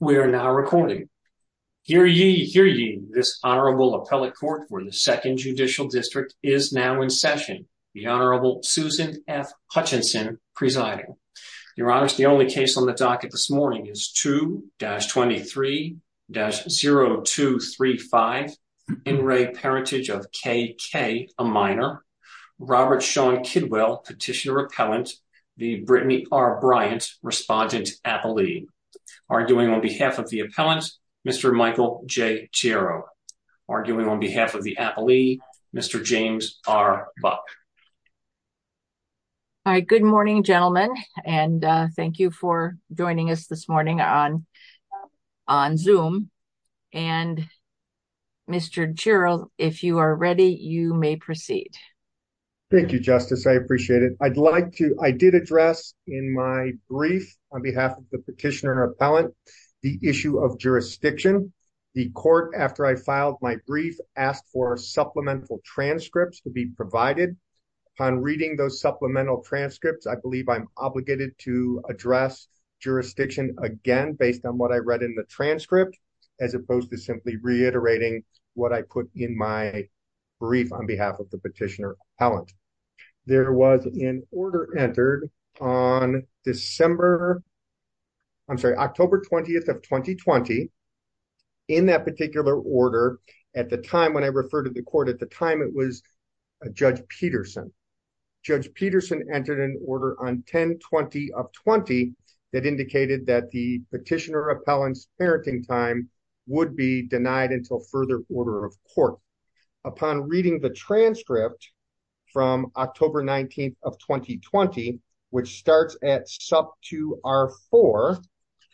We are now recording. Hear ye, hear ye, this Honorable Appellate Court for the Second Judicial District is now in session. The Honorable Susan F. Hutchinson presiding. Your Honors, the only case on the docket this morning is 2-23-0235, in-ray parentage of KK, a minor, Robert Sean Kidwell, petitioner-appellant, the Brittany R. Bryant, respondent-appellee. Arguing on behalf of the appellant, Mr. Michael J. Chiro. Arguing on behalf of the appellee, Mr. James R. Buck. All right, good morning, gentlemen, and thank you for joining us this morning on Zoom. And Mr. Chiro, if you are ready, you may proceed. Thank you, Justice, I appreciate it. I did address in my brief on behalf of the petitioner-appellant the issue of jurisdiction. The court, after I filed my brief, asked for supplemental transcripts to be provided. Upon reading those supplemental transcripts, I believe I'm obligated to address jurisdiction again based on what I read in the transcript, as opposed to simply reiterating what I put in my There was an order entered on December, I'm sorry, October 20th of 2020, in that particular order, at the time when I referred to the court, at the time it was Judge Peterson. Judge Peterson entered an order on 10-20-20 that indicated that the petitioner-appellant's parenting time would be denied until further order of court. Upon reading the transcript from October 19th of 2020, which starts at sub 2R4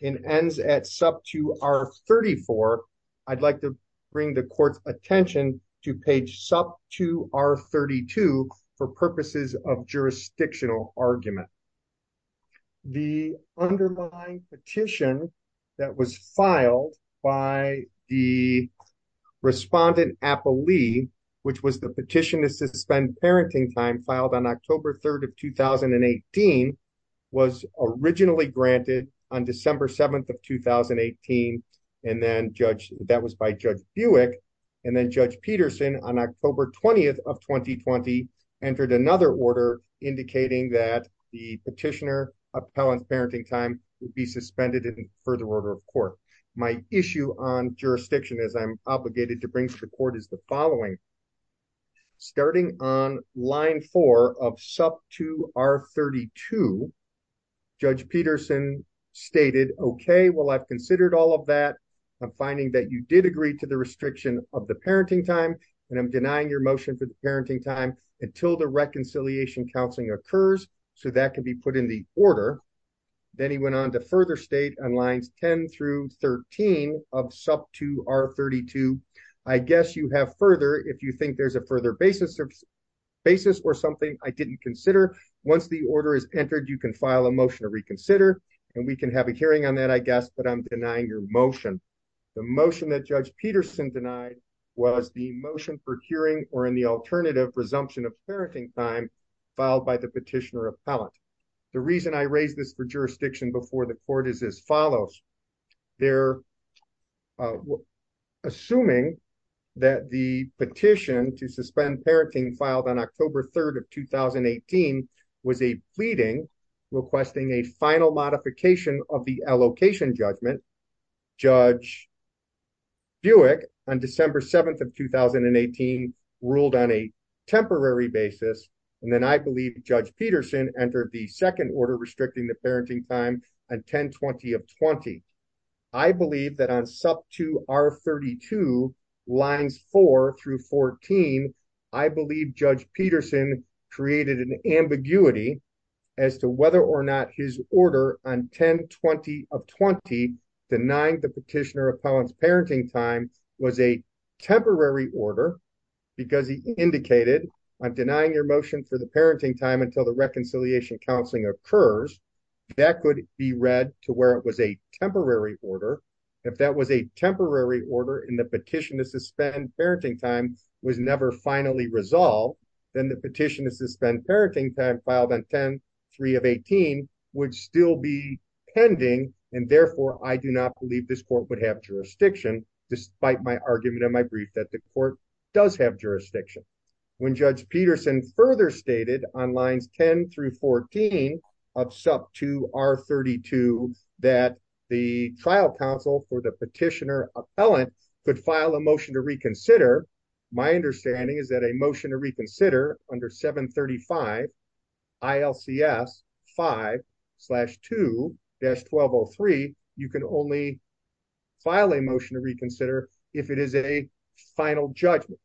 and ends at sub 2R34, I'd like to bring the court's attention to page sub 2R32 for purposes of jurisdictional argument. The underlying petition that was filed by the respondent-appellee, which was the petition to suspend parenting time filed on October 3rd of 2018, was originally granted on December 7th of 2018. That was by Judge Buick. Then Judge Peterson, on October 20th of 2020, entered another order indicating that the petitioner-appellant's parenting time would be suspended in further order of court. My issue on jurisdiction, as I'm obligated to bring to the court, is the following. Starting on line 4 of sub 2R32, Judge Peterson stated, okay, well, I've considered all of that. I'm finding that you did agree to the restriction of the parenting time, and I'm denying your motion for the parenting time until the reconciliation counseling occurs, so that can be put in the order. Then he went on to further state on lines 10 through 13 of sub 2R32, I guess you have further if you think there's a further basis or something I didn't consider. Once the order is entered, you can file a motion to reconsider, and we can have a hearing on that, I guess, but I'm denying your motion. The motion that Judge Peterson denied was the motion for hearing or in the alternative resumption of parenting time filed by the petitioner-appellant. The reason I raise this for jurisdiction before the court is as follows. They're assuming that the petition to suspend parenting filed on October 3rd of 2018 was a pleading requesting a final modification of the Judge Buick on December 7th of 2018 ruled on a temporary basis, and then I believe Judge Peterson entered the second order restricting the parenting time on 1020 of 20. I believe that on sub 2R32 lines 4 through 14, I believe Judge Peterson created an ambiguity as to whether or not his of 20 denying the petitioner-appellant's parenting time was a temporary order because he indicated I'm denying your motion for the parenting time until the reconciliation counseling occurs. That could be read to where it was a temporary order. If that was a temporary order and the petition to suspend parenting time was never finally resolved, then the petition to suspend parenting time filed on 10-3 of 18 would still be pending and therefore I do not believe this court would have jurisdiction despite my argument in my brief that the court does have jurisdiction. When Judge Peterson further stated on lines 10 through 14 of sub 2R32 that the trial counsel for the petitioner-appellant could file a motion to reconsider, my understanding is that a motion to reconsider under 735 ILCS 5-2-1203, you can only file a motion to reconsider if it is a final judgment.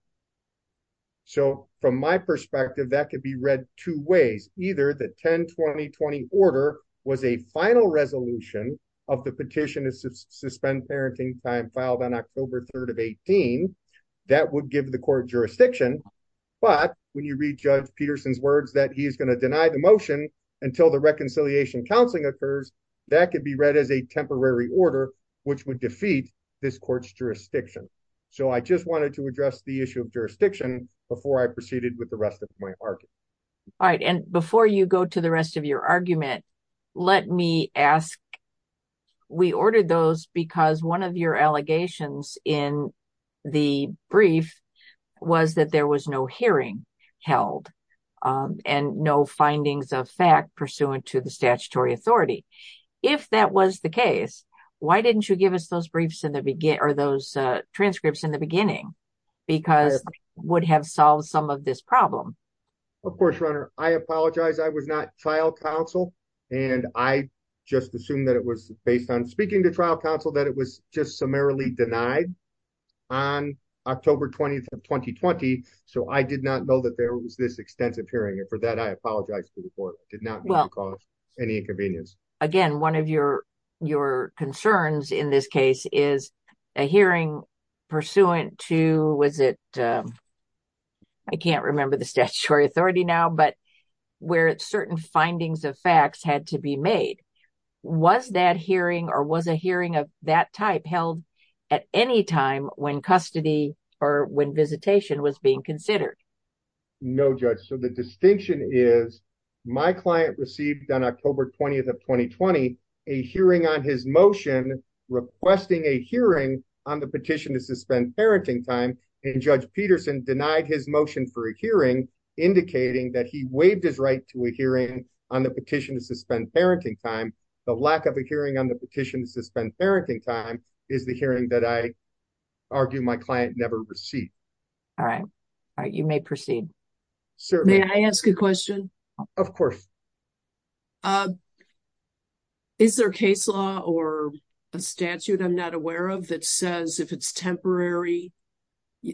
So from my perspective, that could be read two ways. Either the 10-2020 order was a final resolution of the petition to suspend parenting time filed on October 3rd of 18. That would give the court jurisdiction but when you read Judge Peterson's words that he is going to deny the motion until the reconciliation counseling occurs, that could be read as a temporary order which would defeat this court's jurisdiction. So I just wanted to address the issue of jurisdiction before I proceeded with the rest of my argument. All right and before you go to the rest of your argument, let me ask, we ordered those because one of your allegations in the brief was that there was no hearing held and no findings of fact pursuant to the statutory authority. If that was the case, why didn't you give us those briefs in the beginning or those transcripts in the beginning because it would have solved some of this problem? Of course, Rona, I apologize. I was not trial counsel and I just assumed that it was based on speaking to denied on October 20th of 2020. So I did not know that there was this extensive hearing and for that I apologize to the court. It did not cause any inconvenience. Again, one of your concerns in this case is a hearing pursuant to, was it, I can't remember the statutory authority now, but where certain findings of facts had to be made. Was that hearing or was a hearing of that type held at any time when custody or when visitation was being considered? No, Judge. So the distinction is my client received on October 20th of 2020 a hearing on his motion requesting a hearing on the petition to suspend parenting time and Judge Peterson denied his motion for a hearing indicating that he waived his right to a hearing on the petition to suspend parenting time. The of a hearing on the petitions to spend parenting time is the hearing that I argue my client never received. All right. All right. You may proceed. May I ask a question? Of course. Is there a case law or a statute I'm not aware of that says if it's temporary,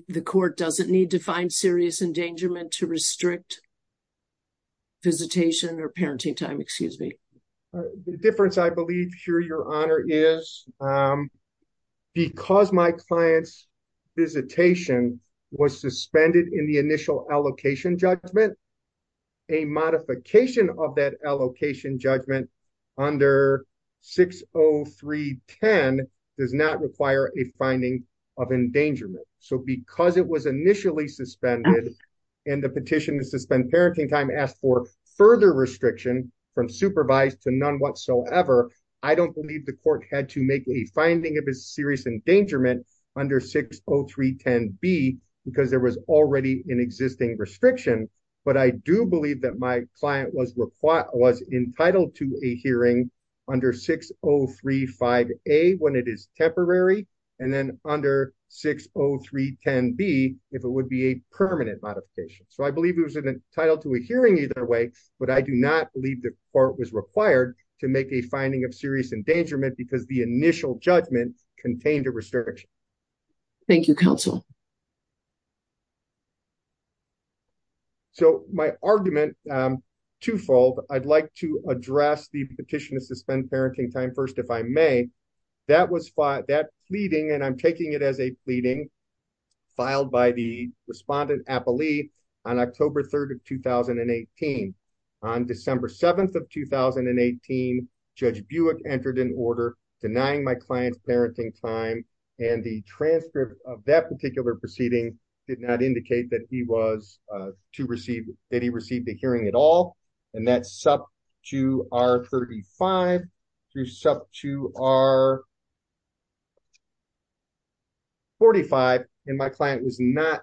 the court doesn't need to find serious endangerment to restrict visitation or parenting time? Excuse me. The difference I believe, Your Honor, is because my client's visitation was suspended in the initial allocation judgment, a modification of that allocation judgment under 60310 does not require a finding of endangerment. Because it was initially suspended and the petition to suspend parenting time asked for further restriction from supervised to none whatsoever, I don't believe the court had to make a finding of a serious endangerment under 60310B because there was already an existing restriction. But I do believe that my client was entitled to a hearing under 6035A when it is if it would be a permanent modification. So I believe it was entitled to a hearing either way, but I do not believe the court was required to make a finding of serious endangerment because the initial judgment contained a restriction. Thank you, counsel. So my argument, twofold, I'd like to address the petition to suspend parenting time first if I may. That was that pleading and I'm taking it as a pleading filed by the respondent appellee on October 3rd of 2018. On December 7th of 2018, Judge Buick entered an order denying my client's parenting time and the transcript of that particular proceeding did not indicate that he was to receive that he received the hearing at all. And that's sub 2R35 to sub 2R45. And my client did not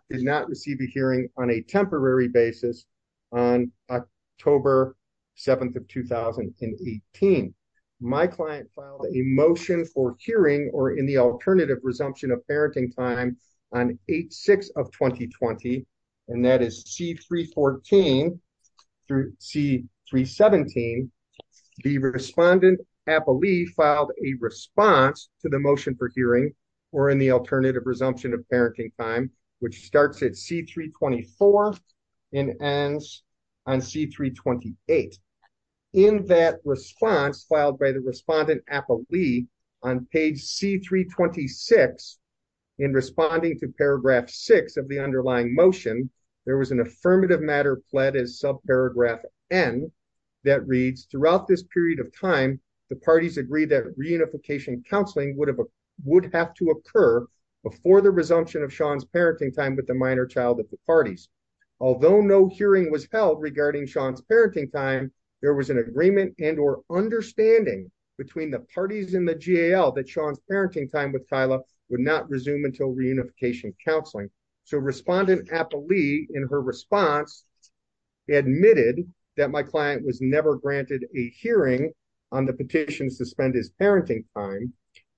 receive a hearing on a temporary basis on October 7th of 2018. My client filed a motion for C314 through C317. The respondent appellee filed a response to the motion for hearing or in the alternative resumption of parenting time, which starts at C324 and ends on C328. In that response filed by the respondent appellee on page C326, in responding to paragraph six of underlying motion, there was an affirmative matter pledged as subparagraph N that reads, throughout this period of time, the parties agreed that reunification counseling would have to occur before the resumption of Sean's parenting time with the minor child of the parties. Although no hearing was held regarding Sean's parenting time, there was an agreement and or understanding between the parties in the GAL that Sean's parenting time with Tyler would not resume until reunification counseling. So respondent appellee in her response admitted that my client was never granted a hearing on the petitions to spend his parenting time.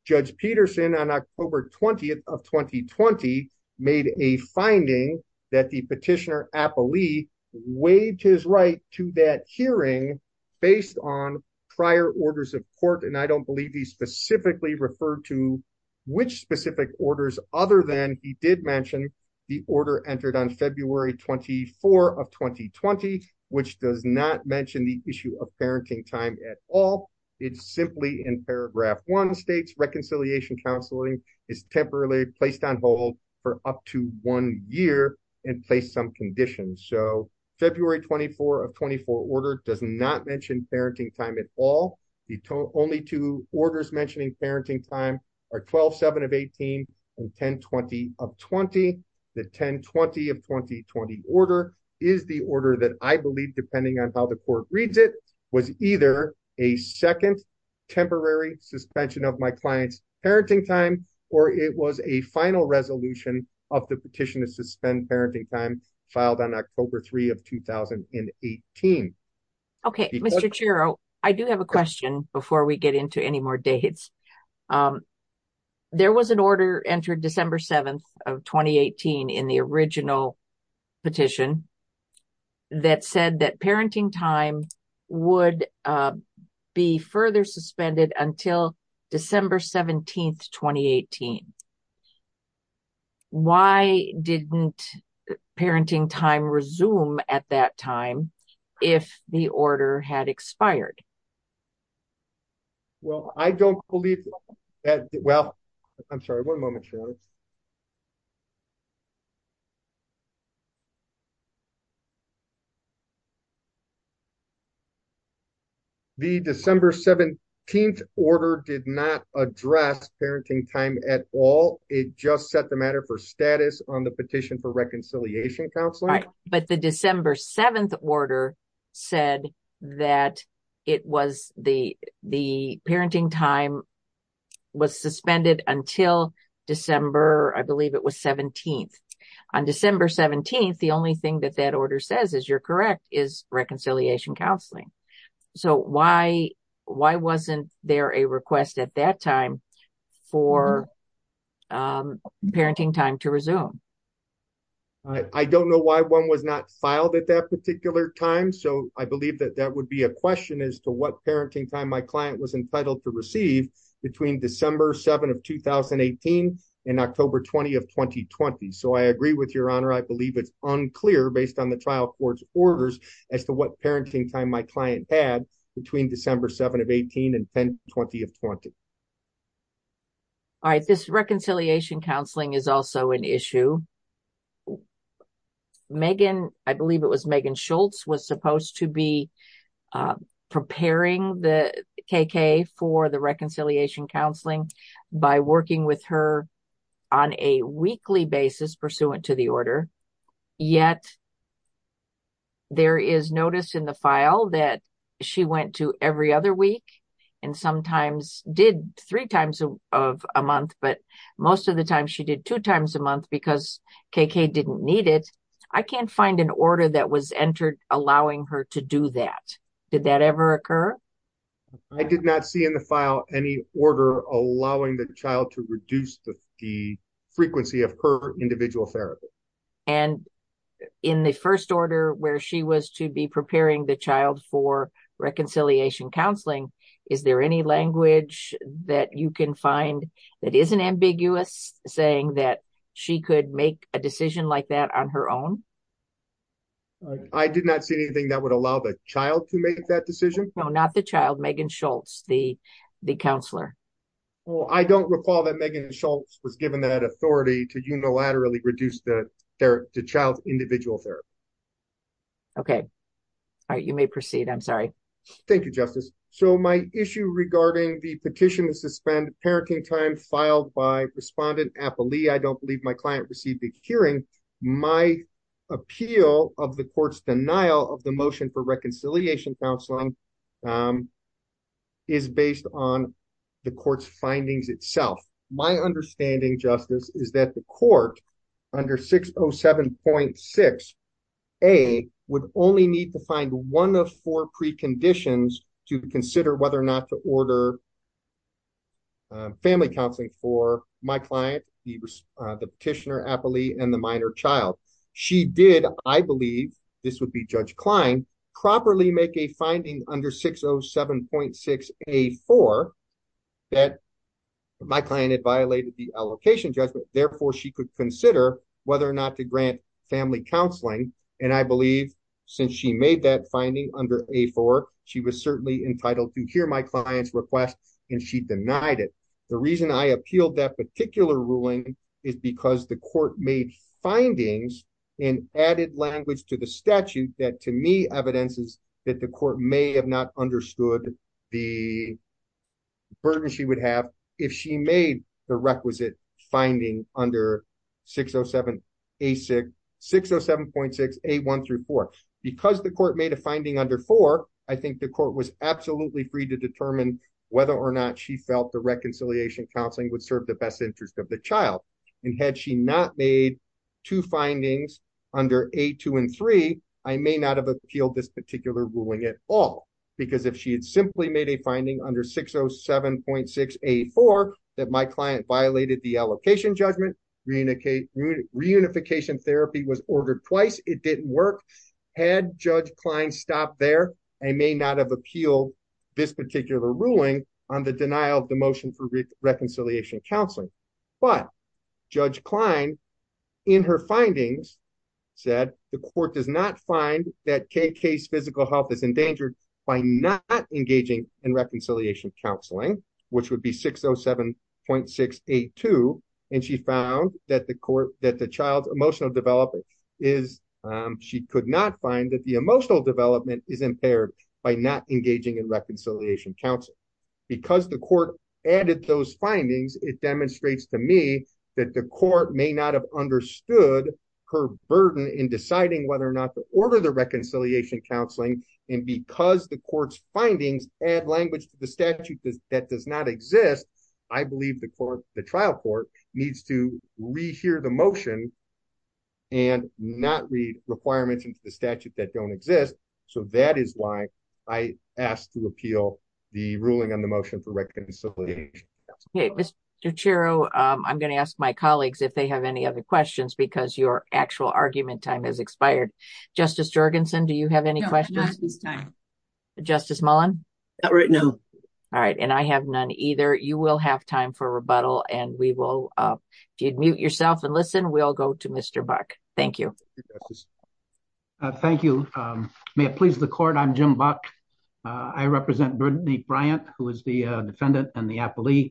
Judge Peterson on October 20th of 2020 made a finding that the petitioner appellee waived his right to that hearing based on prior orders of court. And I don't believe he specifically referred to which specific orders other than he did mention the order entered on February 24 of 2020, which does not mention the issue of parenting time at all. It's simply in paragraph one states reconciliation counseling is temporarily placed on hold for up to one year and placed some conditions. So February 24 of 24 order does not mention parenting time at all. The only two orders mentioning parenting time are 12, seven of 18 and 10, 20 of 20. The 10, 20 of 2020 order is the order that I believe, depending on how the court reads, it was either a second temporary suspension of my client's parenting time, or it was a final resolution of the petition to suspend parenting time filed on October 3 of 2018. Okay, Mr. Chiro, I do have a question before we get into any more dates. There was an order entered December 7 of 2018 in the original petition that said that parenting time would be further suspended until December 17, 2018. Why didn't parenting time resume at that time if the order had expired? Well, I don't believe that. Well, I'm sorry. One moment. The December 17 order did not address parenting time at all. It just set the matter for status on the petition for reconciliation counseling. But the December 7 order said that it was the parenting time was suspended until December, I believe it was 17th. On December 17th, the only thing that that order says, as you're correct, is reconciliation counseling. So, why wasn't there a request at that time for parenting time to resume? I don't know why one was not filed at that particular time. So, I believe that that would a question as to what parenting time my client was entitled to receive between December 7 of 2018 and October 20 of 2020. So, I agree with your honor. I believe it's unclear based on the trial court's orders as to what parenting time my client had between December 7 of 18 and 10, 20 of 20. All right, this reconciliation counseling is also an issue. Megan, I believe it was Megan Schultz was supposed to be preparing the KK for the reconciliation counseling by working with her on a weekly basis pursuant to the order. Yet, there is notice in the file that she went to every other week and sometimes did three times of a month, but most of the time she did two times a month because KK didn't need it. I can't find an order that was entered allowing her to do that. Did that ever occur? I did not see in the file any order allowing the child to reduce the frequency of her individual therapy. And in the first order where she was to be preparing the child for reconciliation counseling, is there any language that you can find that isn't ambiguous saying that she could make a decision like that on her own? I did not see anything that would allow the child to make that decision. No, not the child, Megan Schultz, the counselor. Well, I don't recall that Megan Schultz was given that authority to unilaterally reduce the child's individual therapy. Okay, all right, you may proceed. I'm sorry. Thank you, Justice. So, my issue regarding the petition is to spend parenting time filed by respondent Appali. I don't believe my client received a hearing. My appeal of the court's denial of the motion for reconciliation counseling is based on the court's findings itself. My understanding, Justice, is that the court under 607.6A would only need to find one of four preconditions to consider whether or not to order family counseling for my client, the petitioner Appali, and the minor child. She did, I believe, this would be Judge Klein, properly make a finding under 607.6A4 that my client had violated the allocation judgment. Therefore, she could consider whether or not to grant family counseling. And I believe, since she made that finding under A4, she was certainly entitled to hear my client's request, and she denied it. The reason I appealed that particular ruling is because the court made findings in added language to the statute that, to me, evidences that the court may have not made. Because the court made a finding under four, I think the court was absolutely free to determine whether or not she felt the reconciliation counseling would serve the best interest of the child. And had she not made two findings under A2 and A3, I may not have appealed this particular ruling at all. Because if she had simply made a finding under 607.6A4 that my client violated the allocation judgment, reunification therapy was ordered twice, it didn't work. Had Judge Klein stopped there, I may not have appealed this particular ruling on the denial of the motion for reconciliation counseling. But Judge Klein, in her findings, said the court does not find that KK's physical health is endangered by not engaging in reconciliation counseling, which would be 607.682. And she found that the child's emotional development is, she could not find that the emotional development is impaired by not engaging in reconciliation counseling. Because the court added those findings, it demonstrates to me that the court may not have understood her burden in deciding whether or not to order the reconciliation counseling. And because the court's findings add language to the statute that does not exist, I believe the court, the trial court, needs to re-hear the motion and not read requirements into the statute that don't exist. So that is why I asked to appeal the ruling on the motion for reconciliation. Okay, Mr. Ciaro, I'm going to ask my colleagues if they have any other questions because your actual argument time has expired. Justice Jorgensen, do you have any questions? Justice Mullen? Not right now. All right, and I have none either. You will have time for rebuttal and we will, if you'd mute yourself and listen, we'll go to Mr. Buck. Thank you. Thank you. May it please the court, I'm Jim Buck. I represent Brittany Bryant, who is the defendant and the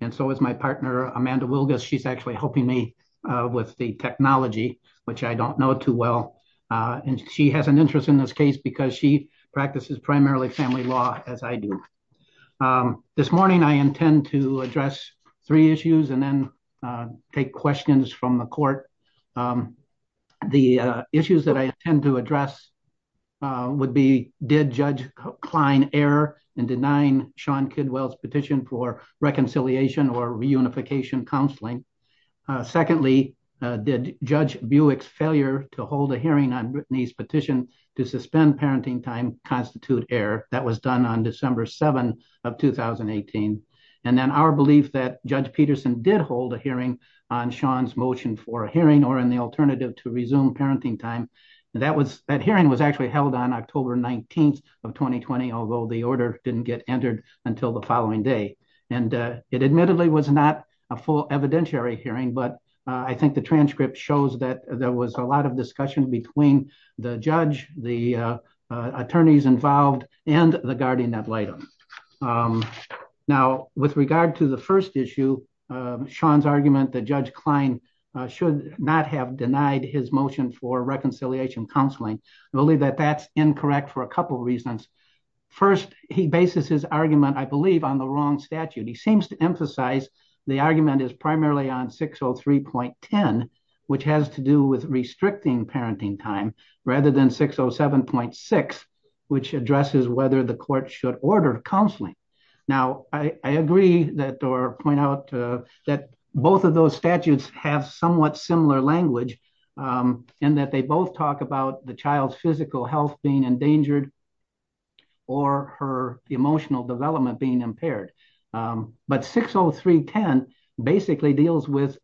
and so is my partner, Amanda Wilgus. She's actually helping me with the technology, which I don't know too well. And she has an interest in this case because she practices primarily family law, as I do. This morning, I intend to address three issues and then take questions from the court. The issues that I intend to address would be, did Judge Klein error in denying Sean Kidwell's petition for reconciliation or reunification counseling? Secondly, did Judge Buick's failure to hold a hearing on Brittany's petition to suspend parenting time constitute error? That was done on December 7 of 2018. And then our belief that Judge Peterson did hold a hearing on Sean's motion for a hearing or in the alternative to the order didn't get entered until the following day. And it admittedly was not a full evidentiary hearing, but I think the transcript shows that there was a lot of discussion between the judge, the attorneys involved and the guardian ad litem. Now with regard to the first issue, Sean's argument that Judge Klein should not have denied his motion for reconciliation. First, he bases his argument, I believe on the wrong statute. He seems to emphasize the argument is primarily on 603.10, which has to do with restricting parenting time, rather than 607.6, which addresses whether the court should order counseling. Now, I agree that or point out that both of those statutes have somewhat similar language and that they both talk about the child's physical health being endangered or her emotional development being impaired. But 603.10 basically deals with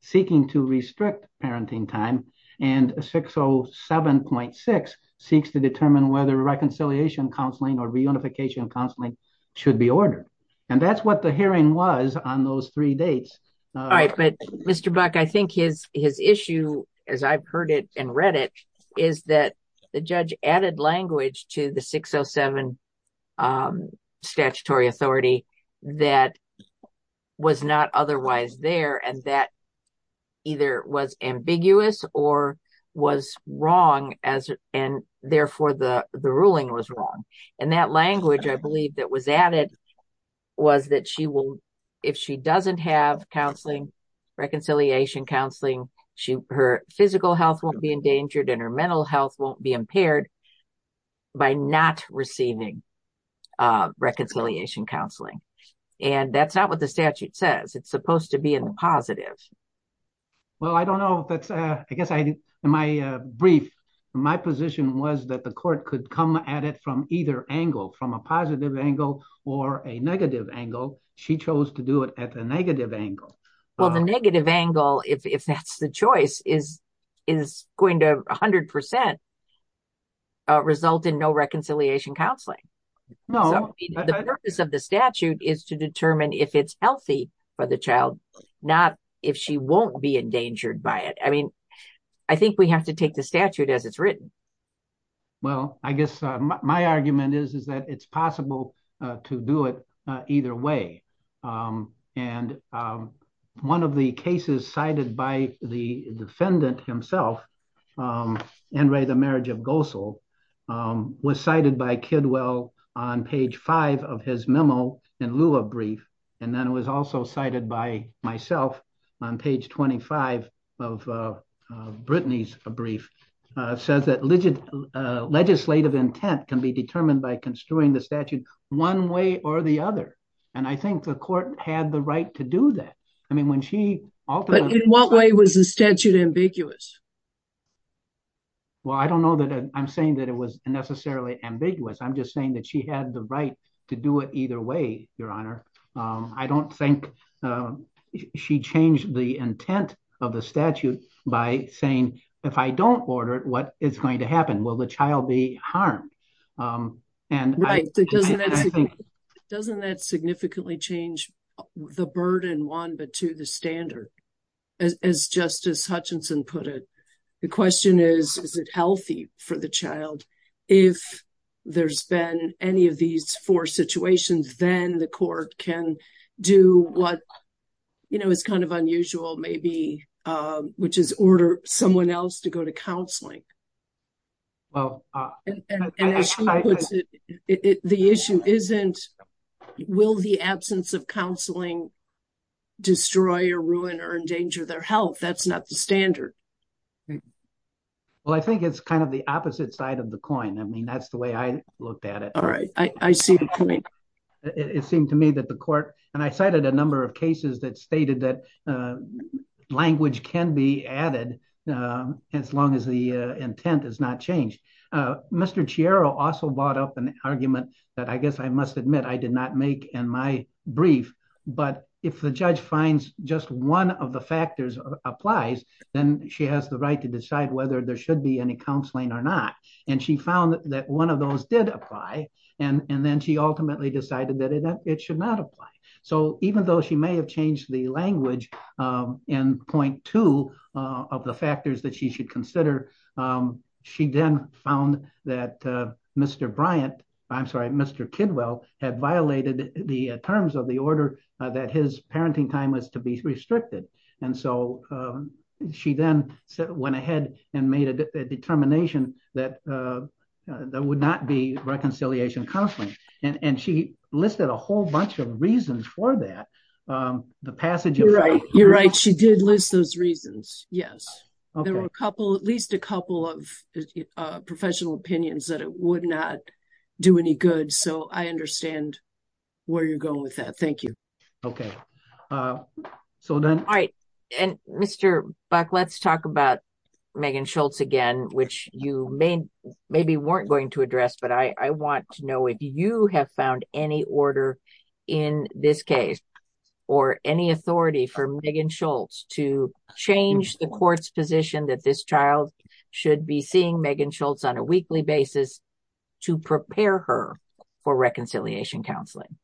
seeking to restrict parenting time and 607.6 seeks to determine whether reconciliation counseling or reunification counseling should be ordered. And that's what the hearing was on those three dates. All right, but Mr. Buick, I think his is that the judge added language to the 607 statutory authority that was not otherwise there and that either was ambiguous or was wrong as and therefore the the ruling was wrong. And that language I believe that was added was that she will, if she doesn't have counseling, reconciliation counseling, her physical health won't be endangered and her mental health won't be impaired by not receiving reconciliation counseling. And that's not what the statute says. It's supposed to be in the positive. Well, I don't know. I guess in my brief, my position was that the court could come at it from either angle, from a positive angle or a negative angle. She chose to do it at the negative angle. Well, the negative angle, if that's the choice, is going to 100 percent result in no reconciliation counseling. No. The purpose of the statute is to determine if it's healthy for the child, not if she won't be endangered by it. I mean, I think we have to take the statute as it's written. Well, I guess my argument is, is that it's possible to do it either way. And one of the cases cited by the defendant himself, Enri, the marriage of Gosel, was cited by Kidwell on page five of his memo in lieu of brief. And then it was also cited by myself on page twenty five of Brittany's brief says that legit legislative intent can be determined by construing the statute one way or the other. And I think the court had the right to do that. I mean, when she. But in what way was the statute ambiguous? Well, I don't know that I'm saying that it was necessarily ambiguous. I'm just saying that she had the right to do it either way. Your Honor, I don't think she changed the intent of the statute by saying, if I don't order it, what is going to happen? Will the child be harmed? Doesn't that significantly change the burden one to the standard, as Justice Hutchinson put it? The question is, is it healthy for the child? If there's been any of these four situations, then the court can do what is kind of unusual, maybe, which is order someone else to go to counseling. Well, the issue isn't will the absence of counseling destroy or ruin or endanger their standard? Well, I think it's kind of the opposite side of the coin. I mean, that's the way I looked at it. All right. I see. It seemed to me that the court and I cited a number of cases that stated that language can be added as long as the intent is not changed. Mr. Chiaro also brought up an argument that I guess I must admit I did not make in my brief. But if the judge finds just one of factors applies, then she has the right to decide whether there should be any counseling or not. And she found that one of those did apply. And then she ultimately decided that it should not apply. So even though she may have changed the language in point two of the factors that she should consider, she then found that Mr. Bryant, I'm sorry, Mr. Kidwell had violated the terms of order that his parenting time was to be restricted. And so she then went ahead and made a determination that there would not be reconciliation counseling. And she listed a whole bunch of reasons for that. The passage of right. You're right. She did list those reasons. Yes. There were a couple, at least a couple of professional opinions that it would not do any good. So I OK. So then I and Mr. Buck, let's talk about Megan Schultz again, which you may maybe weren't going to address. But I want to know if you have found any order in this case or any authority for Megan Schultz to change the court's position that this child should be seeing Megan Schultz on a weekly basis to prepare her for reconciliation counseling?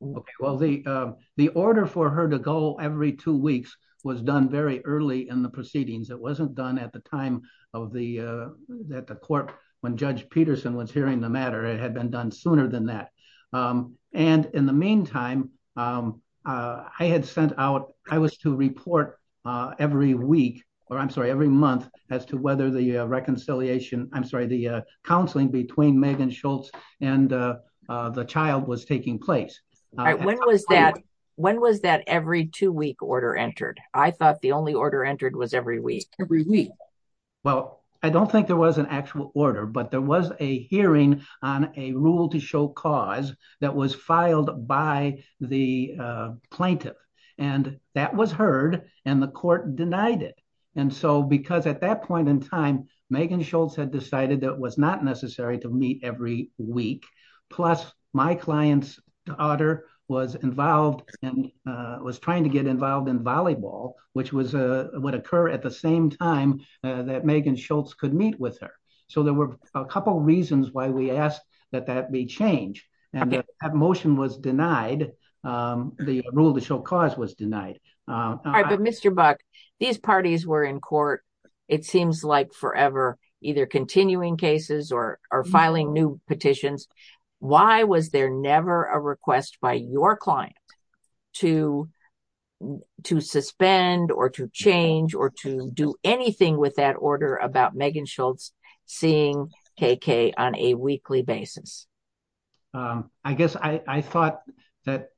Well, the the order for her to go every two weeks was done very early in the proceedings. It wasn't done at the time of the that the court when Judge Peterson was hearing the matter, it had been done sooner than that. And in the meantime, I had sent out I was to report every week or I'm sorry, every month as whether the reconciliation I'm sorry, the counseling between Megan Schultz and the child was taking place. When was that? When was that every two week order entered? I thought the only order entered was every week, every week. Well, I don't think there was an actual order, but there was a hearing on a rule to show cause that was filed by the plaintiff and that was heard and court denied it. And so because at that point in time, Megan Schultz had decided that was not necessary to meet every week. Plus, my client's daughter was involved and was trying to get involved in volleyball, which was what occur at the same time that Megan Schultz could meet with her. So there were a couple of reasons why we asked that that be changed. And that motion was denied. All right. But Mr. Buck, these parties were in court, it seems like forever, either continuing cases or filing new petitions. Why was there never a request by your client to suspend or to change or to do anything with that order about Megan Schultz seeing KK on a weekly basis? I guess I thought that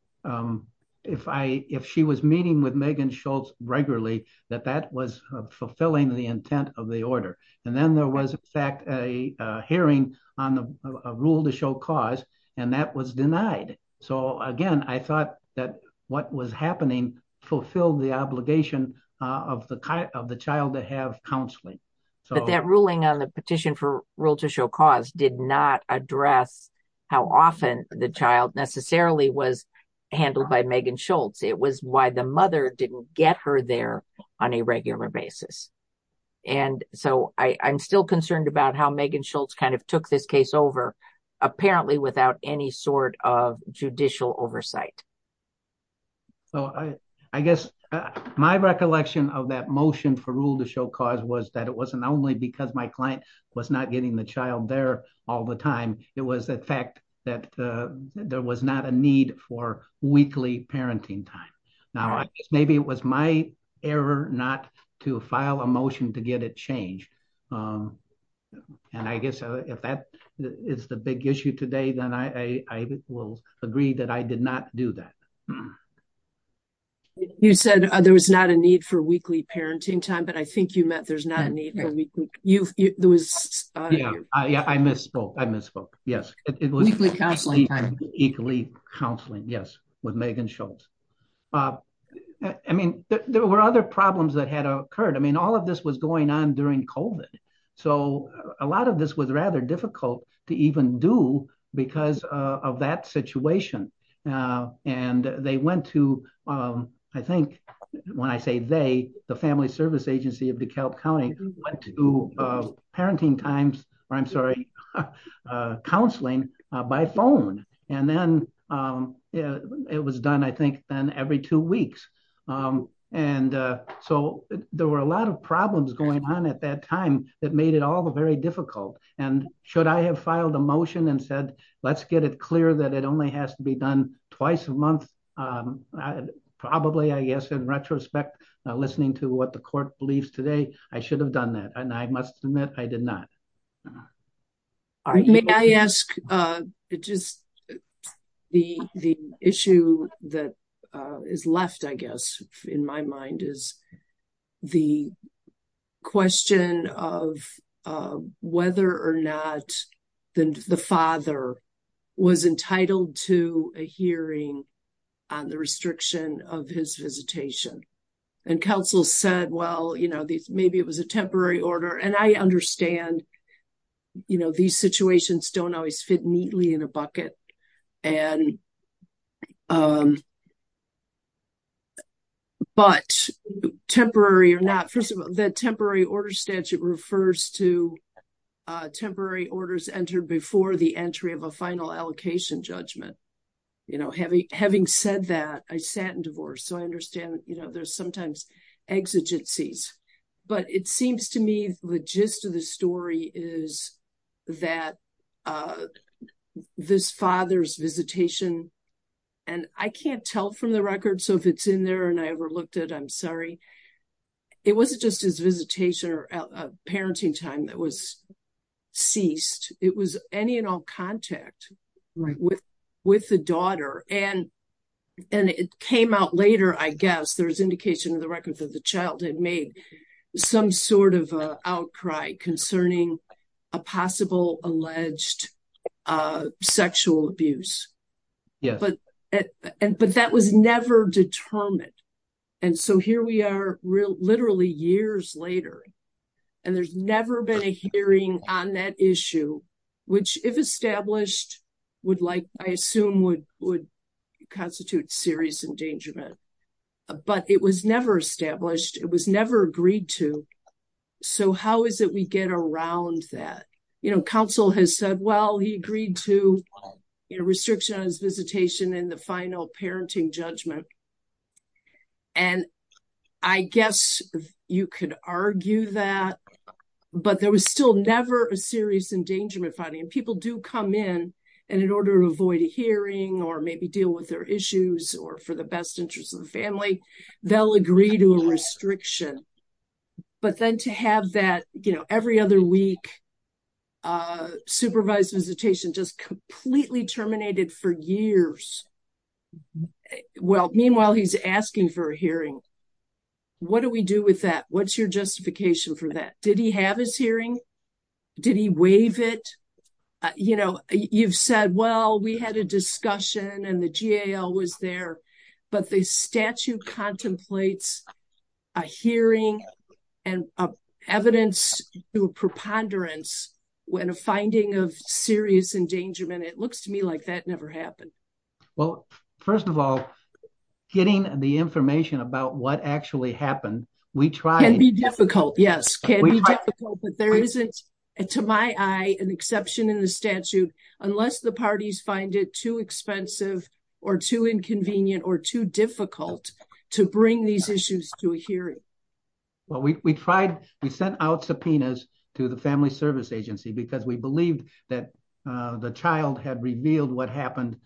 if she was meeting with Megan Schultz regularly, that that was fulfilling the intent of the order. And then there was in fact a hearing on the rule to show cause and that was denied. So again, I thought that what was happening fulfilled the obligation of the child to have counseling. But that ruling on the petition for address how often the child necessarily was handled by Megan Schultz. It was why the mother didn't get her there on a regular basis. And so I'm still concerned about how Megan Schultz kind of took this case over, apparently without any sort of judicial oversight. So I guess my recollection of that motion for rule to show cause was that it wasn't only because my it was the fact that there was not a need for weekly parenting time. Now, maybe it was my error not to file a motion to get it changed. And I guess if that is the big issue today, then I will agree that I did not do that. You said there was not a need for weekly counseling. Yes, with Megan Schultz. I mean, there were other problems that had occurred. I mean, all of this was going on during COVID. So a lot of this was rather difficult to even do because of that situation. And they went to, I think, when I say they, the Family Service Counseling by phone. And then it was done, I think, then every two weeks. And so there were a lot of problems going on at that time that made it all very difficult. And should I have filed a motion and said, let's get it clear that it only has to be done twice a month? Probably, I guess, in retrospect, listening to what the court believes today, I should have done that. And I must admit, I did not. All right. May I ask, just the issue that is left, I guess, in my mind is the question of whether or not the father was entitled to a hearing on the restriction of his visitation. And counsel said, well, maybe it was a temporary order. And I understand these situations don't always fit neatly in a bucket. But temporary or not, first of all, the temporary order statute refers to temporary orders entered before the entry of a final allocation judgment. Having said that, I sat in divorce, so I understand there's sometimes exigencies. But it seems to me the gist of the story is that this father's visitation, and I can't tell from the record, so if it's in there and I overlooked it, I'm sorry. It wasn't just his visitation or parenting time that was ceased. It was any and all contact with the daughter. And it came out later, I guess, there was indication in the record that the child had made some sort of outcry concerning a possible alleged sexual abuse. But that was never determined. And so here we are, literally years later, and there's never been a hearing on that issue, which if established, I assume would constitute serious endangerment. But it was never established. It was never agreed to. So how is it we get around that? You know, counsel has said, well, he agreed to a restriction on his visitation in the final a serious endangerment finding. And people do come in, and in order to avoid a hearing or maybe deal with their issues or for the best interest of the family, they'll agree to a restriction. But then to have that, you know, every other week, supervised visitation just completely terminated for years. Well, meanwhile, he's asking for a hearing. What do we do with that? What's your justification for that? Did he have his hearing? Did he waive it? You know, you've said, well, we had a discussion and the GAL was there, but the statute contemplates a hearing and evidence to a preponderance. When a finding of serious endangerment, it looks to me like that never happened. Well, first of all, getting the information about what actually happened, we try and be difficult. Yes, but there isn't, to my eye, an exception in the statute, unless the parties find it too expensive or too inconvenient or too difficult to bring these issues to a hearing. Well, we tried, we sent out subpoenas to the Family Service Agency, because we believed that the child had revealed what happened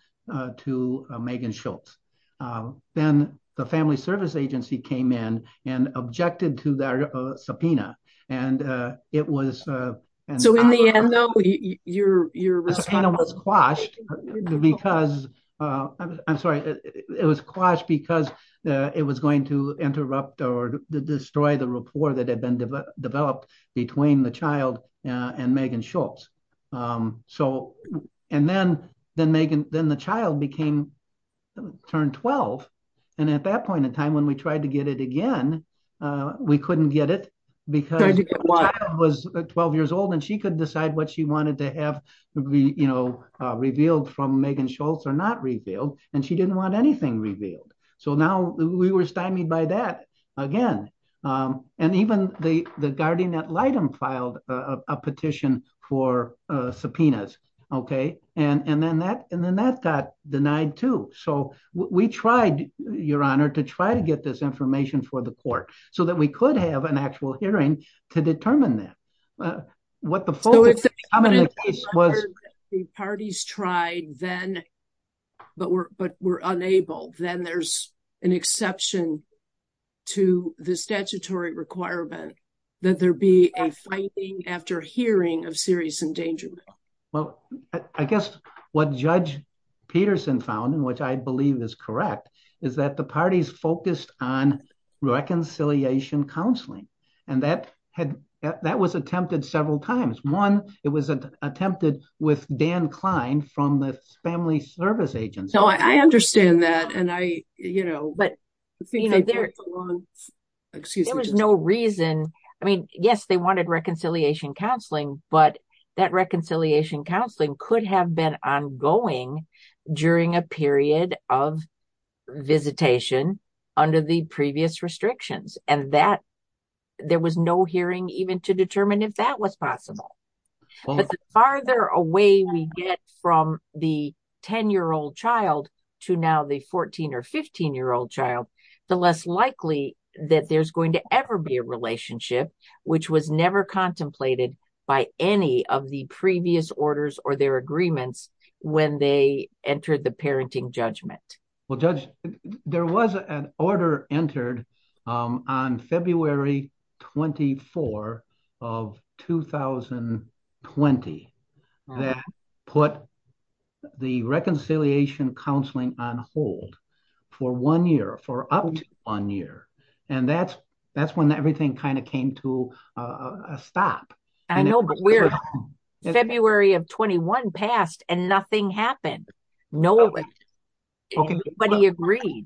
to Megan Schultz. Then the Family Service Agency came in and objected to that subpoena. It was quashed because it was going to interrupt or destroy the rapport that had been developed between the child and Megan Schultz. Then the child became turned 12. At that point in time, when we tried to get it again, we couldn't get it because the child was 12 years old. She could decide what she wanted to have revealed from Megan Schultz or not revealed. She didn't want anything revealed. Now, we were stymied by that again. Even the guardian ad litem filed a petition for subpoenas. Then that got denied too. We tried, Your Honor, to try to get this information for the court, so that we could have an actual hearing to determine that. What the focus of the case was- the statutory requirement that there be a fighting after hearing of serious endangerment. Well, I guess what Judge Peterson found, which I believe is correct, is that the parties focused on reconciliation counseling. That was attempted several times. One, it was attempted with Dan Agents. I understand that. There was no reason. Yes, they wanted reconciliation counseling, but that reconciliation counseling could have been ongoing during a period of visitation under the previous restrictions. There was no hearing even to determine if that was possible. The farther away we get from the 10-year-old child to now the 14 or 15-year-old child, the less likely that there's going to ever be a relationship, which was never contemplated by any of the previous orders or their agreements when they entered the parenting judgment. Well, Judge, there was an order entered on February 24 of 2020 that put the reconciliation counseling on hold for one year, for up to one year. That's when everything came to a stop. I know, but February of 21 passed and nothing happened. Nobody agreed.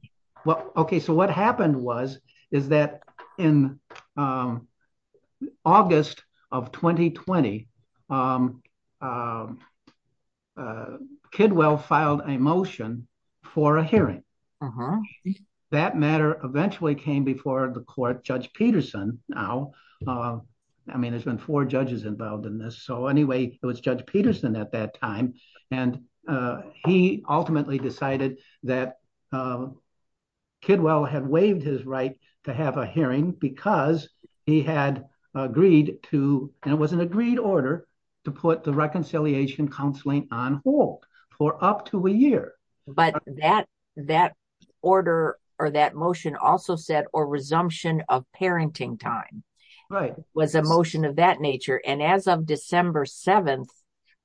Okay, so what happened was, is that in August of 2020, Kidwell filed a motion for a hearing. That matter eventually came before the court, Judge Peterson now. There's been four judges involved in this. Anyway, it was Judge Peterson at that time. He ultimately decided that Kidwell had waived his right to have a hearing because he had agreed to, and it was an agreed order, to put the reconciliation counseling on hold for up to a year. But that order, or that motion also said, or resumption of parenting time was a motion of that nature. And as of December 7th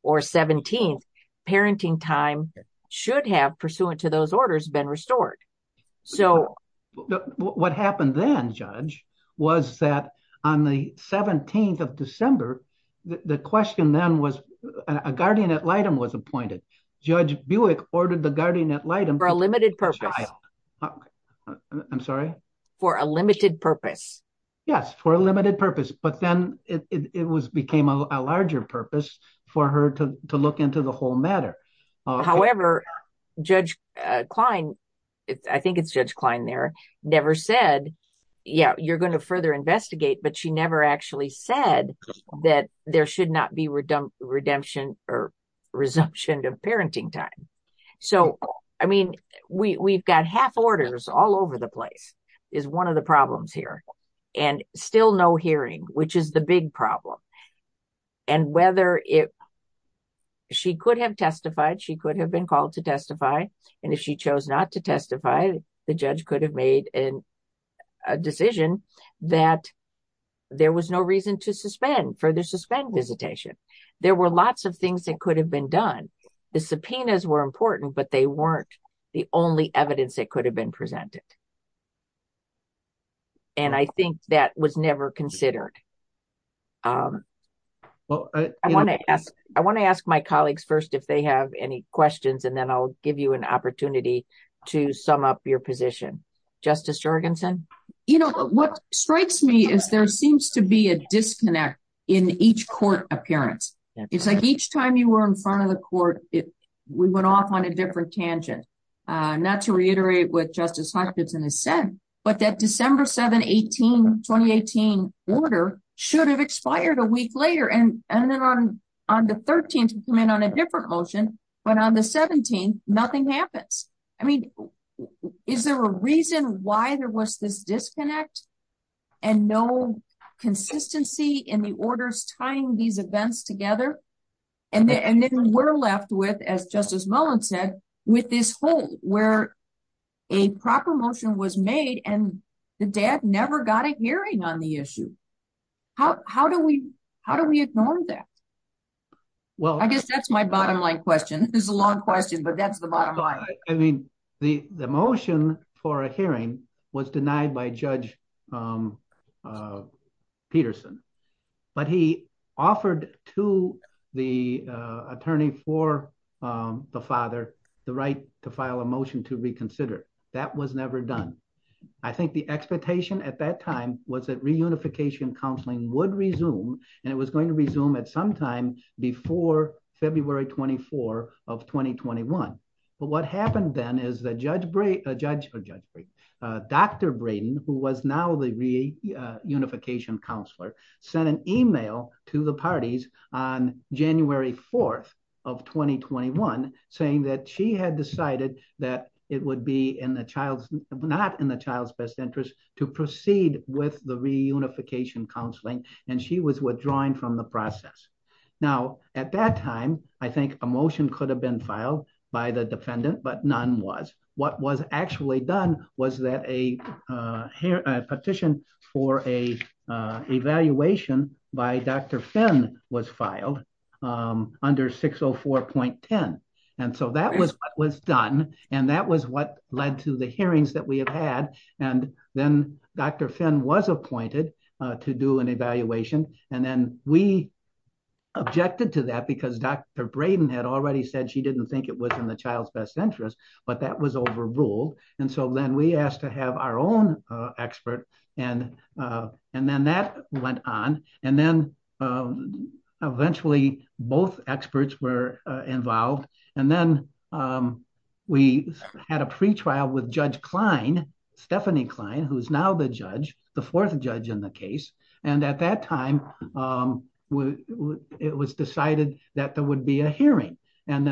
or 17th, parenting time should have, pursuant to those orders, been restored. What happened then, Judge, was that on the 17th of December, the question then was, a guardian ad litem was appointed. Judge Buick ordered the guardian ad litem. For a limited purpose. I'm sorry? For a limited purpose. Yes, for a limited purpose. But then it became a larger purpose for her to look into the whole matter. However, Judge Klein, I think it's Judge Klein there, never said, yeah, you're going to further investigate, but she never actually said that there should not be redemption or resumption of parenting time. So, I mean, we've got half orders all over the place, is one of the problems here. And still no hearing, which is the big problem. And whether it, she could have testified, she could have been called to testify. And if she chose not to testify, the judge could have made a decision that there was no reason to suspend, further suspend visitation. There were lots of things that could have been done. The subpoenas were important, but they weren't the only evidence that could have been presented. And I think that was never considered. I want to ask my colleagues first, if they have any questions, and then I'll give you an opportunity to sum up your position. Justice Jorgensen? What strikes me is there seems to be a disconnect in each court appearance. It's like each time you were in front of the court, we went off on a different tangent. Not to reiterate what Justice Hutchinson has said, but that December 7, 2018 order should have expired a week later. And then on the 13th, we come in on a different motion, but on the 17th, nothing happens. I mean, is there a reason why there was this disconnect and no consistency in the orders tying these events together? And then we're left with, as Justice Mullen said, with this hole where a proper motion was made and the dad never got a hearing on the issue. How do we ignore that? I guess that's my bottom line question. It's a long question, but that's the bottom line. I mean, the motion for a hearing was denied by Judge Peterson, but he offered to the attorney for the father the right to file a motion to reconsider. That was never done. I think the expectation at that time was that reunification counseling would resume, and it was going to happen. What happened then is that Judge Braden, who was now the reunification counselor, sent an email to the parties on January 4th of 2021 saying that she had decided that it would be not in the child's best interest to proceed with the reunification counseling, and she was withdrawing from the process. Now, at that time, I think a motion could have been filed by the defendant, but none was. What was actually done was that a petition for an evaluation by Dr. Finn was filed under 604.10, and so that was what was done, and that was what led to the hearings that we have had, and then Dr. Finn was appointed to do an evaluation, and then we objected to that because Dr. Braden had already said she didn't think it was in the child's best interest, but that was overruled, and so then we asked to have our own expert, and then that went on, and then eventually both experts were involved, and then we had a pretrial with Judge Stephanie Klein, who's now the judge, the fourth judge in the case, and at that time, it was decided that there would be a hearing on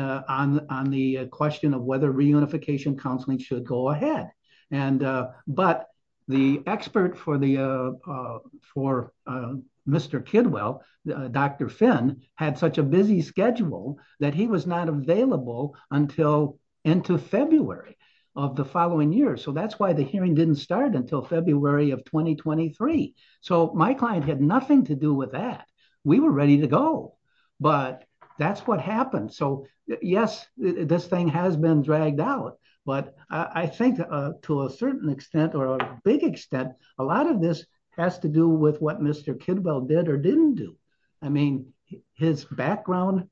the question of whether reunification counseling should go ahead, but the expert for Mr. Kidwell, Dr. Finn, had such a busy schedule that he was not available until into February of the following year, so that's why the hearing didn't start until February of 2023, so my client had nothing to do with that. We were ready to go, but that's what happened, so yes, this thing has been dragged out, but I think to a certain extent or a big extent, a lot of this has to do with what Mr. Kidwell did or didn't do. I mean, his background,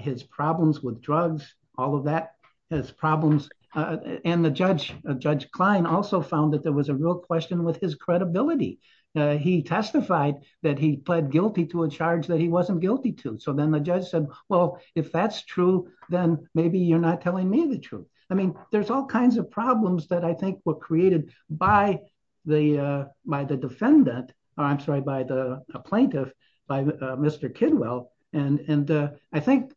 his problems with drugs, all of that, his problems, and Judge Klein also found that there was a real question with his credibility. He testified that he pled guilty to a charge that he wasn't guilty to, so then the judge said, well, if that's true, then maybe you're not telling me the truth. I mean, there's all kinds of problems that I think were created by the defendant, or I'm sorry, by the plaintiff, by Mr. Kidwell, and I think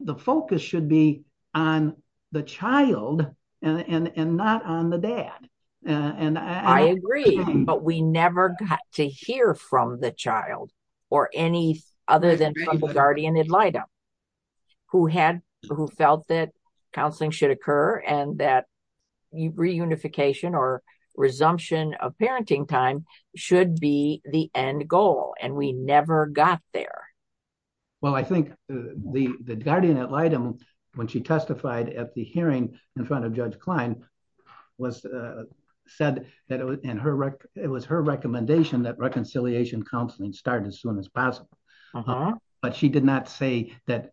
the focus should be on the child and not on the dad. I agree, but we never got to hear from the child or any other than Trouble Guardian and LIDA, who felt that counseling should occur and that reunification or parenting time should be the end goal, and we never got there. Well, I think the guardian at LIDA, when she testified at the hearing in front of Judge Klein, said that it was her recommendation that reconciliation counseling start as soon as possible, but she did not say that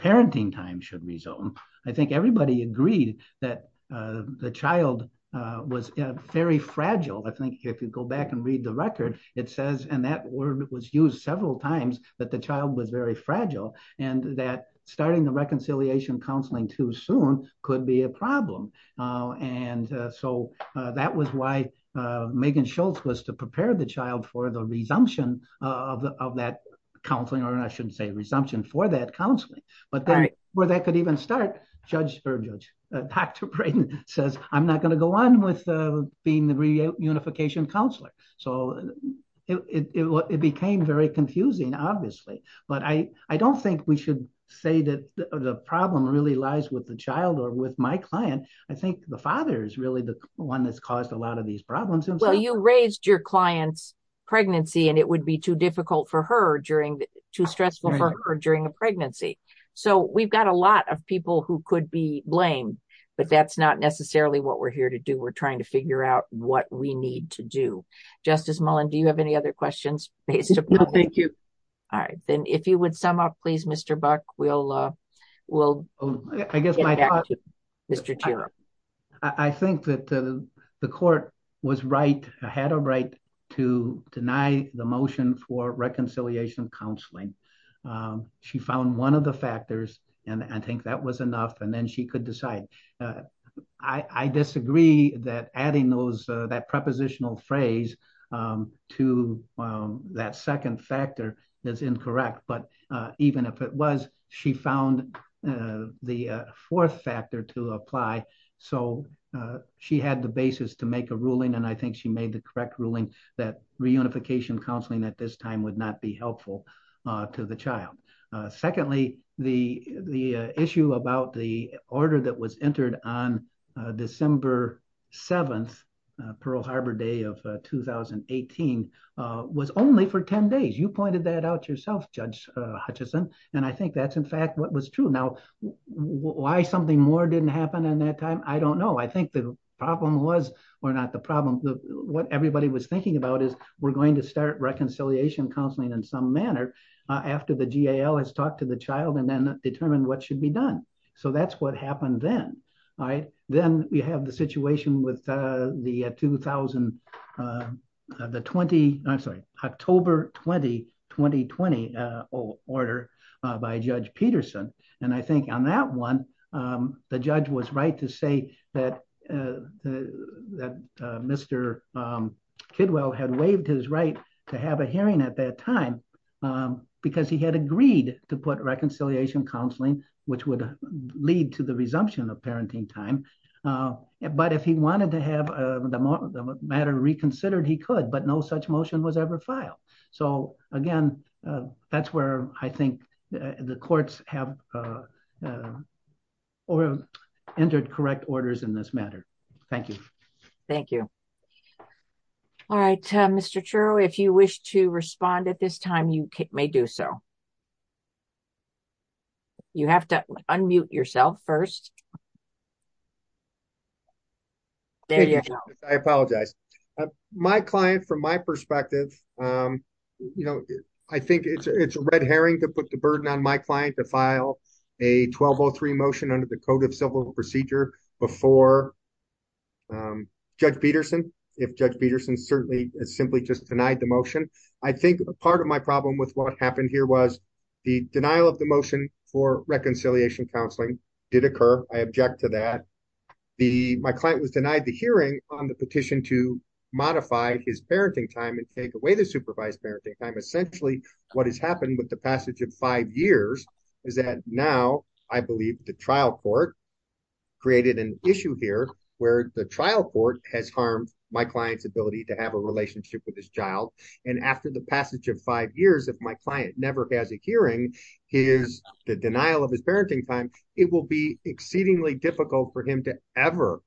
parenting time should resume. I think everybody agreed that the child was very if you go back and read the record, it says, and that word was used several times, that the child was very fragile and that starting the reconciliation counseling too soon could be a problem, and so that was why Megan Schultz was to prepare the child for the resumption of that counseling, or I shouldn't say resumption for that counseling, but then where that could even start, Judge, Dr. Braden says, I'm not going to go on with being the reunification counselor, so it became very confusing, obviously, but I don't think we should say that the problem really lies with the child or with my client. I think the father is really the one that's caused a lot of these problems. Well, you raised your client's pregnancy, and it would be too difficult for her during, too stressful for her during a pregnancy, so we've got a lot of people who could be blamed, but that's not necessarily what we're here to do. We're trying to figure out what we need to do. Justice Mullen, do you have any other questions? No, thank you. All right, then if you would sum up, please, Mr. Buck, we'll get back to you. I think that the court was right, had a right to deny the motion for reconciliation counseling. She found one of the factors, and I think that was enough, and then she could decide. I disagree that adding that prepositional phrase to that second factor is incorrect, but even if it was, she found the fourth factor to apply, so she had the basis to make a ruling, and I think she made the correct ruling that reunification counseling at this time would not be helpful to the child. Secondly, the issue about the order that was entered on December 7th, Pearl Harbor Day of 2018, was only for 10 days. You pointed that out yourself, Judge Hutchison, and I think that's, in fact, what was true. Now, why something more didn't happen in that time, I don't know. I think the problem was, or not the problem, what everybody was thinking about is we're going to start reconciliation counseling in some manner after the GAL has talked to the child and then determined what should be done, so that's what happened then, all right? Then we have the situation with 2000, the 20, I'm sorry, October 20, 2020 order by Judge Peterson, and I think on that one, the judge was right to say that Mr. Kidwell had waived his right to have a hearing at that time because he had agreed to put reconciliation counseling, which would lead to the resumption of parenting time, but if he wanted to have the matter reconsidered, he could, but no such motion was ever filed, so again, that's where I think the courts have entered correct orders in this matter. Thank you. Thank you. All right, Mr. Truro, if you wish to respond at this time, you may do so. You have to unmute yourself first. There you go. I apologize. My client, from my perspective, you know, I think it's a red herring to put the burden on my client to file a 1203 motion under the Code of Civil Procedure before Judge Peterson, if Judge Peterson certainly simply just denied the motion. I think part of my problem with what happened here was the denial of the motion for reconciliation counseling did occur. I object to that. My client was denied the hearing on the petition to modify his parenting time and take away the supervised parenting time. Essentially, what has happened with the passage of five years is that now, I believe, the trial court created an issue here where the trial court has harmed my client's ability to have a relationship with his child, and after the passage of five years, if my client never has a hearing, the denial of his parenting time, it will be exceedingly difficult for him to ever,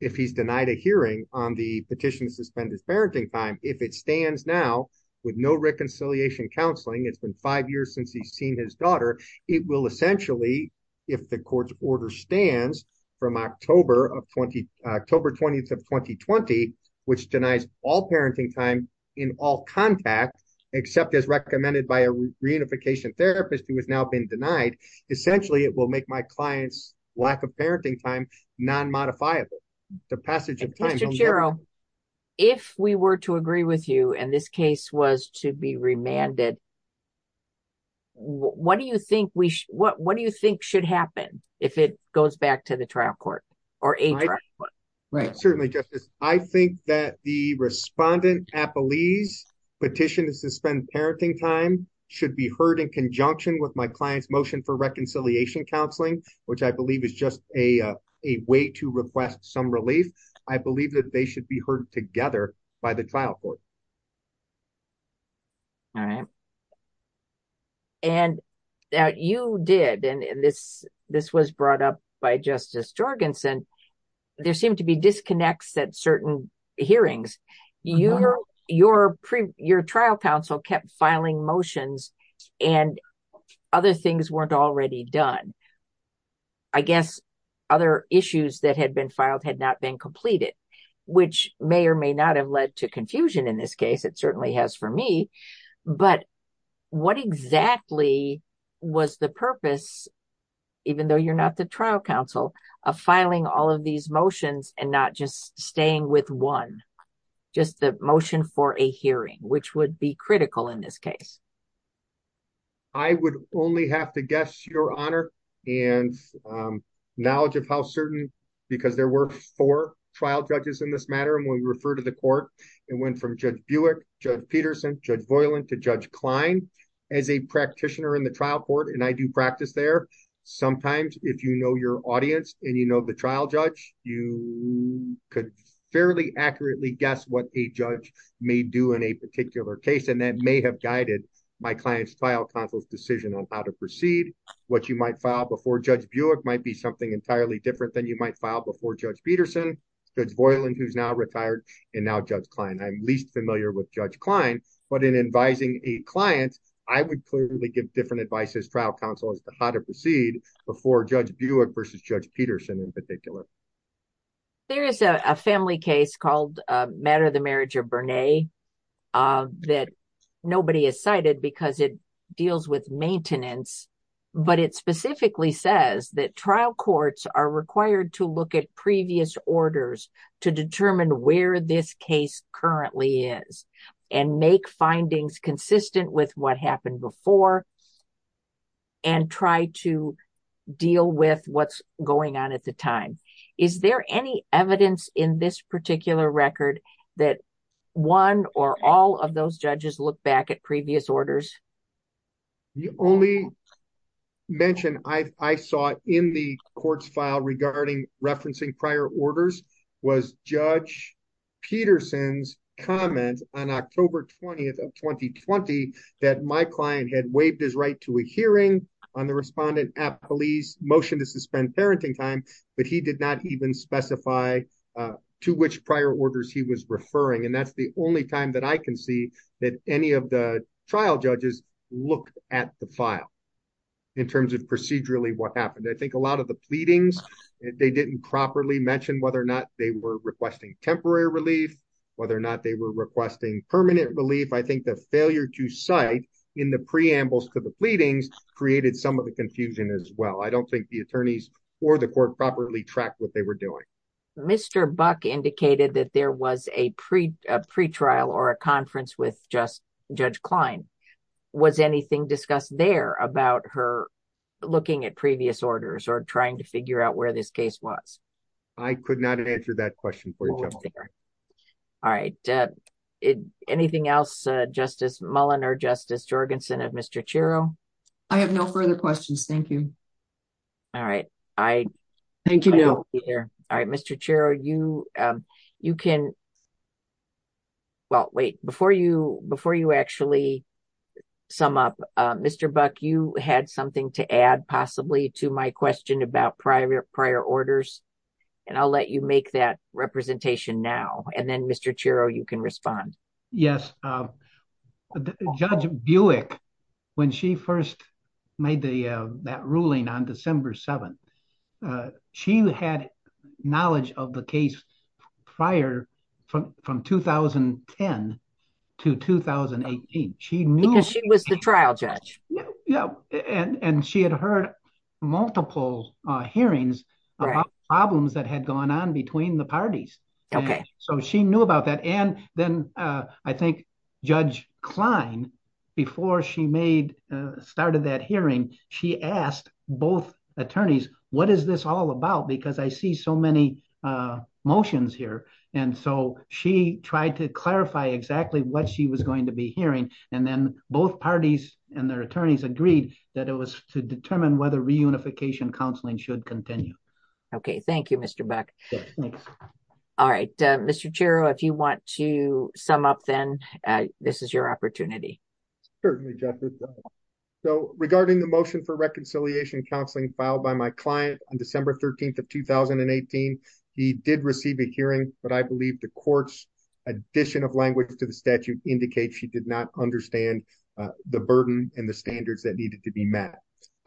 if he's denied a hearing on the petition to suspend his parenting time, if it stands now with no reconciliation counseling, it's been five years since he's seen his daughter, it will essentially, if the court's order stands from October 20th of 2020, which denies all parenting time in all contact except as recommended by a reunification therapist who has now been denied, essentially, it will make my client's lack of parenting time non-modifiable. The passage of time. Mr. Chiro, if we were to agree with you and this case was to be remanded, what do you think should happen if it goes back to the trial court or a trial court? Right. Certainly, Justice. I think that the respondent, Apolli's petition to suspend parenting time should be heard in conjunction with my client's motion for reconciliation counseling, which I believe is just a way to request some relief. I believe that they should be heard together by the trial court. All right. You did, and this was brought up by Justice Jorgensen, there seemed to be disconnects at certain hearings. Your trial counsel kept filing motions and other things weren't already done. I guess other issues that had been filed had not been completed, which may or may not have led to confusion in this case. It certainly has for me. But what exactly was the purpose, even though you're not the trial counsel, of filing all of these motions and not just staying with one, just the motion for a hearing, which would be critical in this case? I would only have to guess, Your Honor, and knowledge of how certain, because there were four trial judges in this matter, and when we refer to the court, it went from Judge Buick, Judge Peterson, Judge Voiland, to Judge Klein. As a practitioner in the trial court, and I do practice there, sometimes if you know your audience and you know the trial judge, you could fairly accurately guess what a judge may do in a particular case, and that may have guided my client's trial counsel's decision on how to proceed. What you might file before Judge Buick might be something entirely different than you might file before Judge Peterson, Judge Voiland, who's now retired, and now Judge Klein. I'm least familiar with Judge Klein, but in advising a client, I would clearly give different advice as trial counsel as to how to proceed before Judge Buick versus Judge Peterson, in particular. There is a family case called Matter of the Marriage of Bernay that nobody has cited because it deals with maintenance, but it specifically says that trial courts are required to look at previous orders to determine where this case currently is and make findings consistent with what happened before and try to deal with what's going on at the time. Is there any evidence in this particular record that one or all of those judges look back at previous orders? The only mention I saw in the court's file regarding referencing prior orders was Judge Peterson's comment on October 20th of 2020 that my client had waived his right to a hearing on the respondent at police motion to suspend parenting time, but he did not even specify to which prior orders he was referring, and that's the only time that I can see that any of the trial judges looked at the file in terms of procedurally what happened. I think a lot of the pleadings, they didn't properly mention whether or not they were requesting temporary relief, whether or not they were requesting permanent relief. I think the failure to cite in the preambles for the pleadings created some of the confusion as well. I don't think the attorneys or the court properly tracked what they were doing. Mr. Buck indicated that there was a pretrial or a conference with Judge Klein. Was anything discussed there about her looking at previous orders or trying to figure out where this case was? I could not answer that question for you. All right. Anything else, Justice Mullin or Justice Jorgensen of Mr. Chiro? I have no further questions. Thank you. All right. Thank you. All right. Mr. Chiro, you can... Well, wait. Before you actually sum up, Mr. Buck, you had something to add possibly to my question about prior orders, and I'll let you make that representation now, and then, Mr. Chiro, you can respond. Yes. Judge Buick, when she first made that ruling on December 7th, she had knowledge of the case prior from 2010 to 2018. She knew... Because she was the trial judge. Yeah. And she had heard multiple hearings about problems that had gone on between the parties. Okay. So she knew about that. And then I think Judge Klein, before she started that hearing, she asked both attorneys, what is this all about? Because I see so many motions here. And so she tried to clarify exactly what she was going to be hearing. And then both parties and their attorneys agreed that it was to determine whether reunification counseling should continue. Okay. Thank you, Mr. Buck. All right. Mr. Chiro, if you want to sum up then, this is your opportunity. Certainly, Justice. So regarding the motion for reconciliation counseling filed by my client on December 13th of 2018, he did receive a hearing, but I believe the court's addition of language to the statute indicates she did not understand the burden and the standards that needed to be met.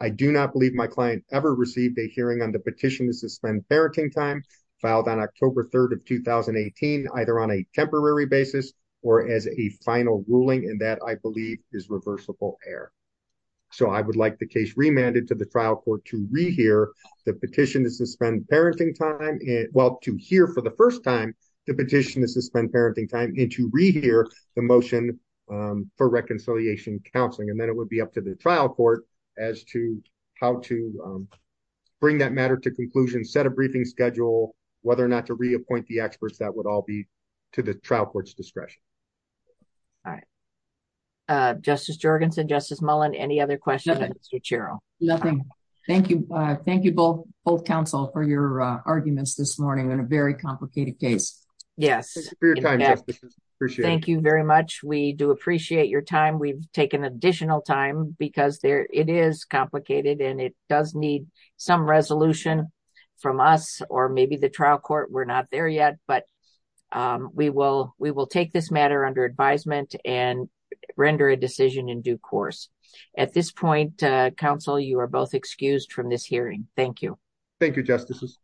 I do not believe my client ever received a hearing on the petition to suspend parenting time filed on October 3rd of 2018, either on a temporary basis or as a final ruling, and that I believe is reversible error. So I would like the case remanded to the trial court to rehear the petition to suspend parenting time... Well, to hear for the first time the petition to suspend parenting time and to rehear the motion for reconciliation counseling. And then it would be up to the trial court as to how to bring that matter to conclusion, set a briefing schedule, whether or not to reappoint the experts, that would all be to the trial court's discretion. All right. Justice Jorgensen, Justice Mullen, any other questions for Mr. Chiro? Nothing. Thank you. Thank you both counsel for your arguments this morning on a very complicated case. Yes. Thank you very much. We do appreciate your time. We've taken additional time because it is some resolution from us or maybe the trial court. We're not there yet, but we will take this matter under advisement and render a decision in due course. At this point, counsel, you are both excused from this hearing. Thank you. Thank you, Justices.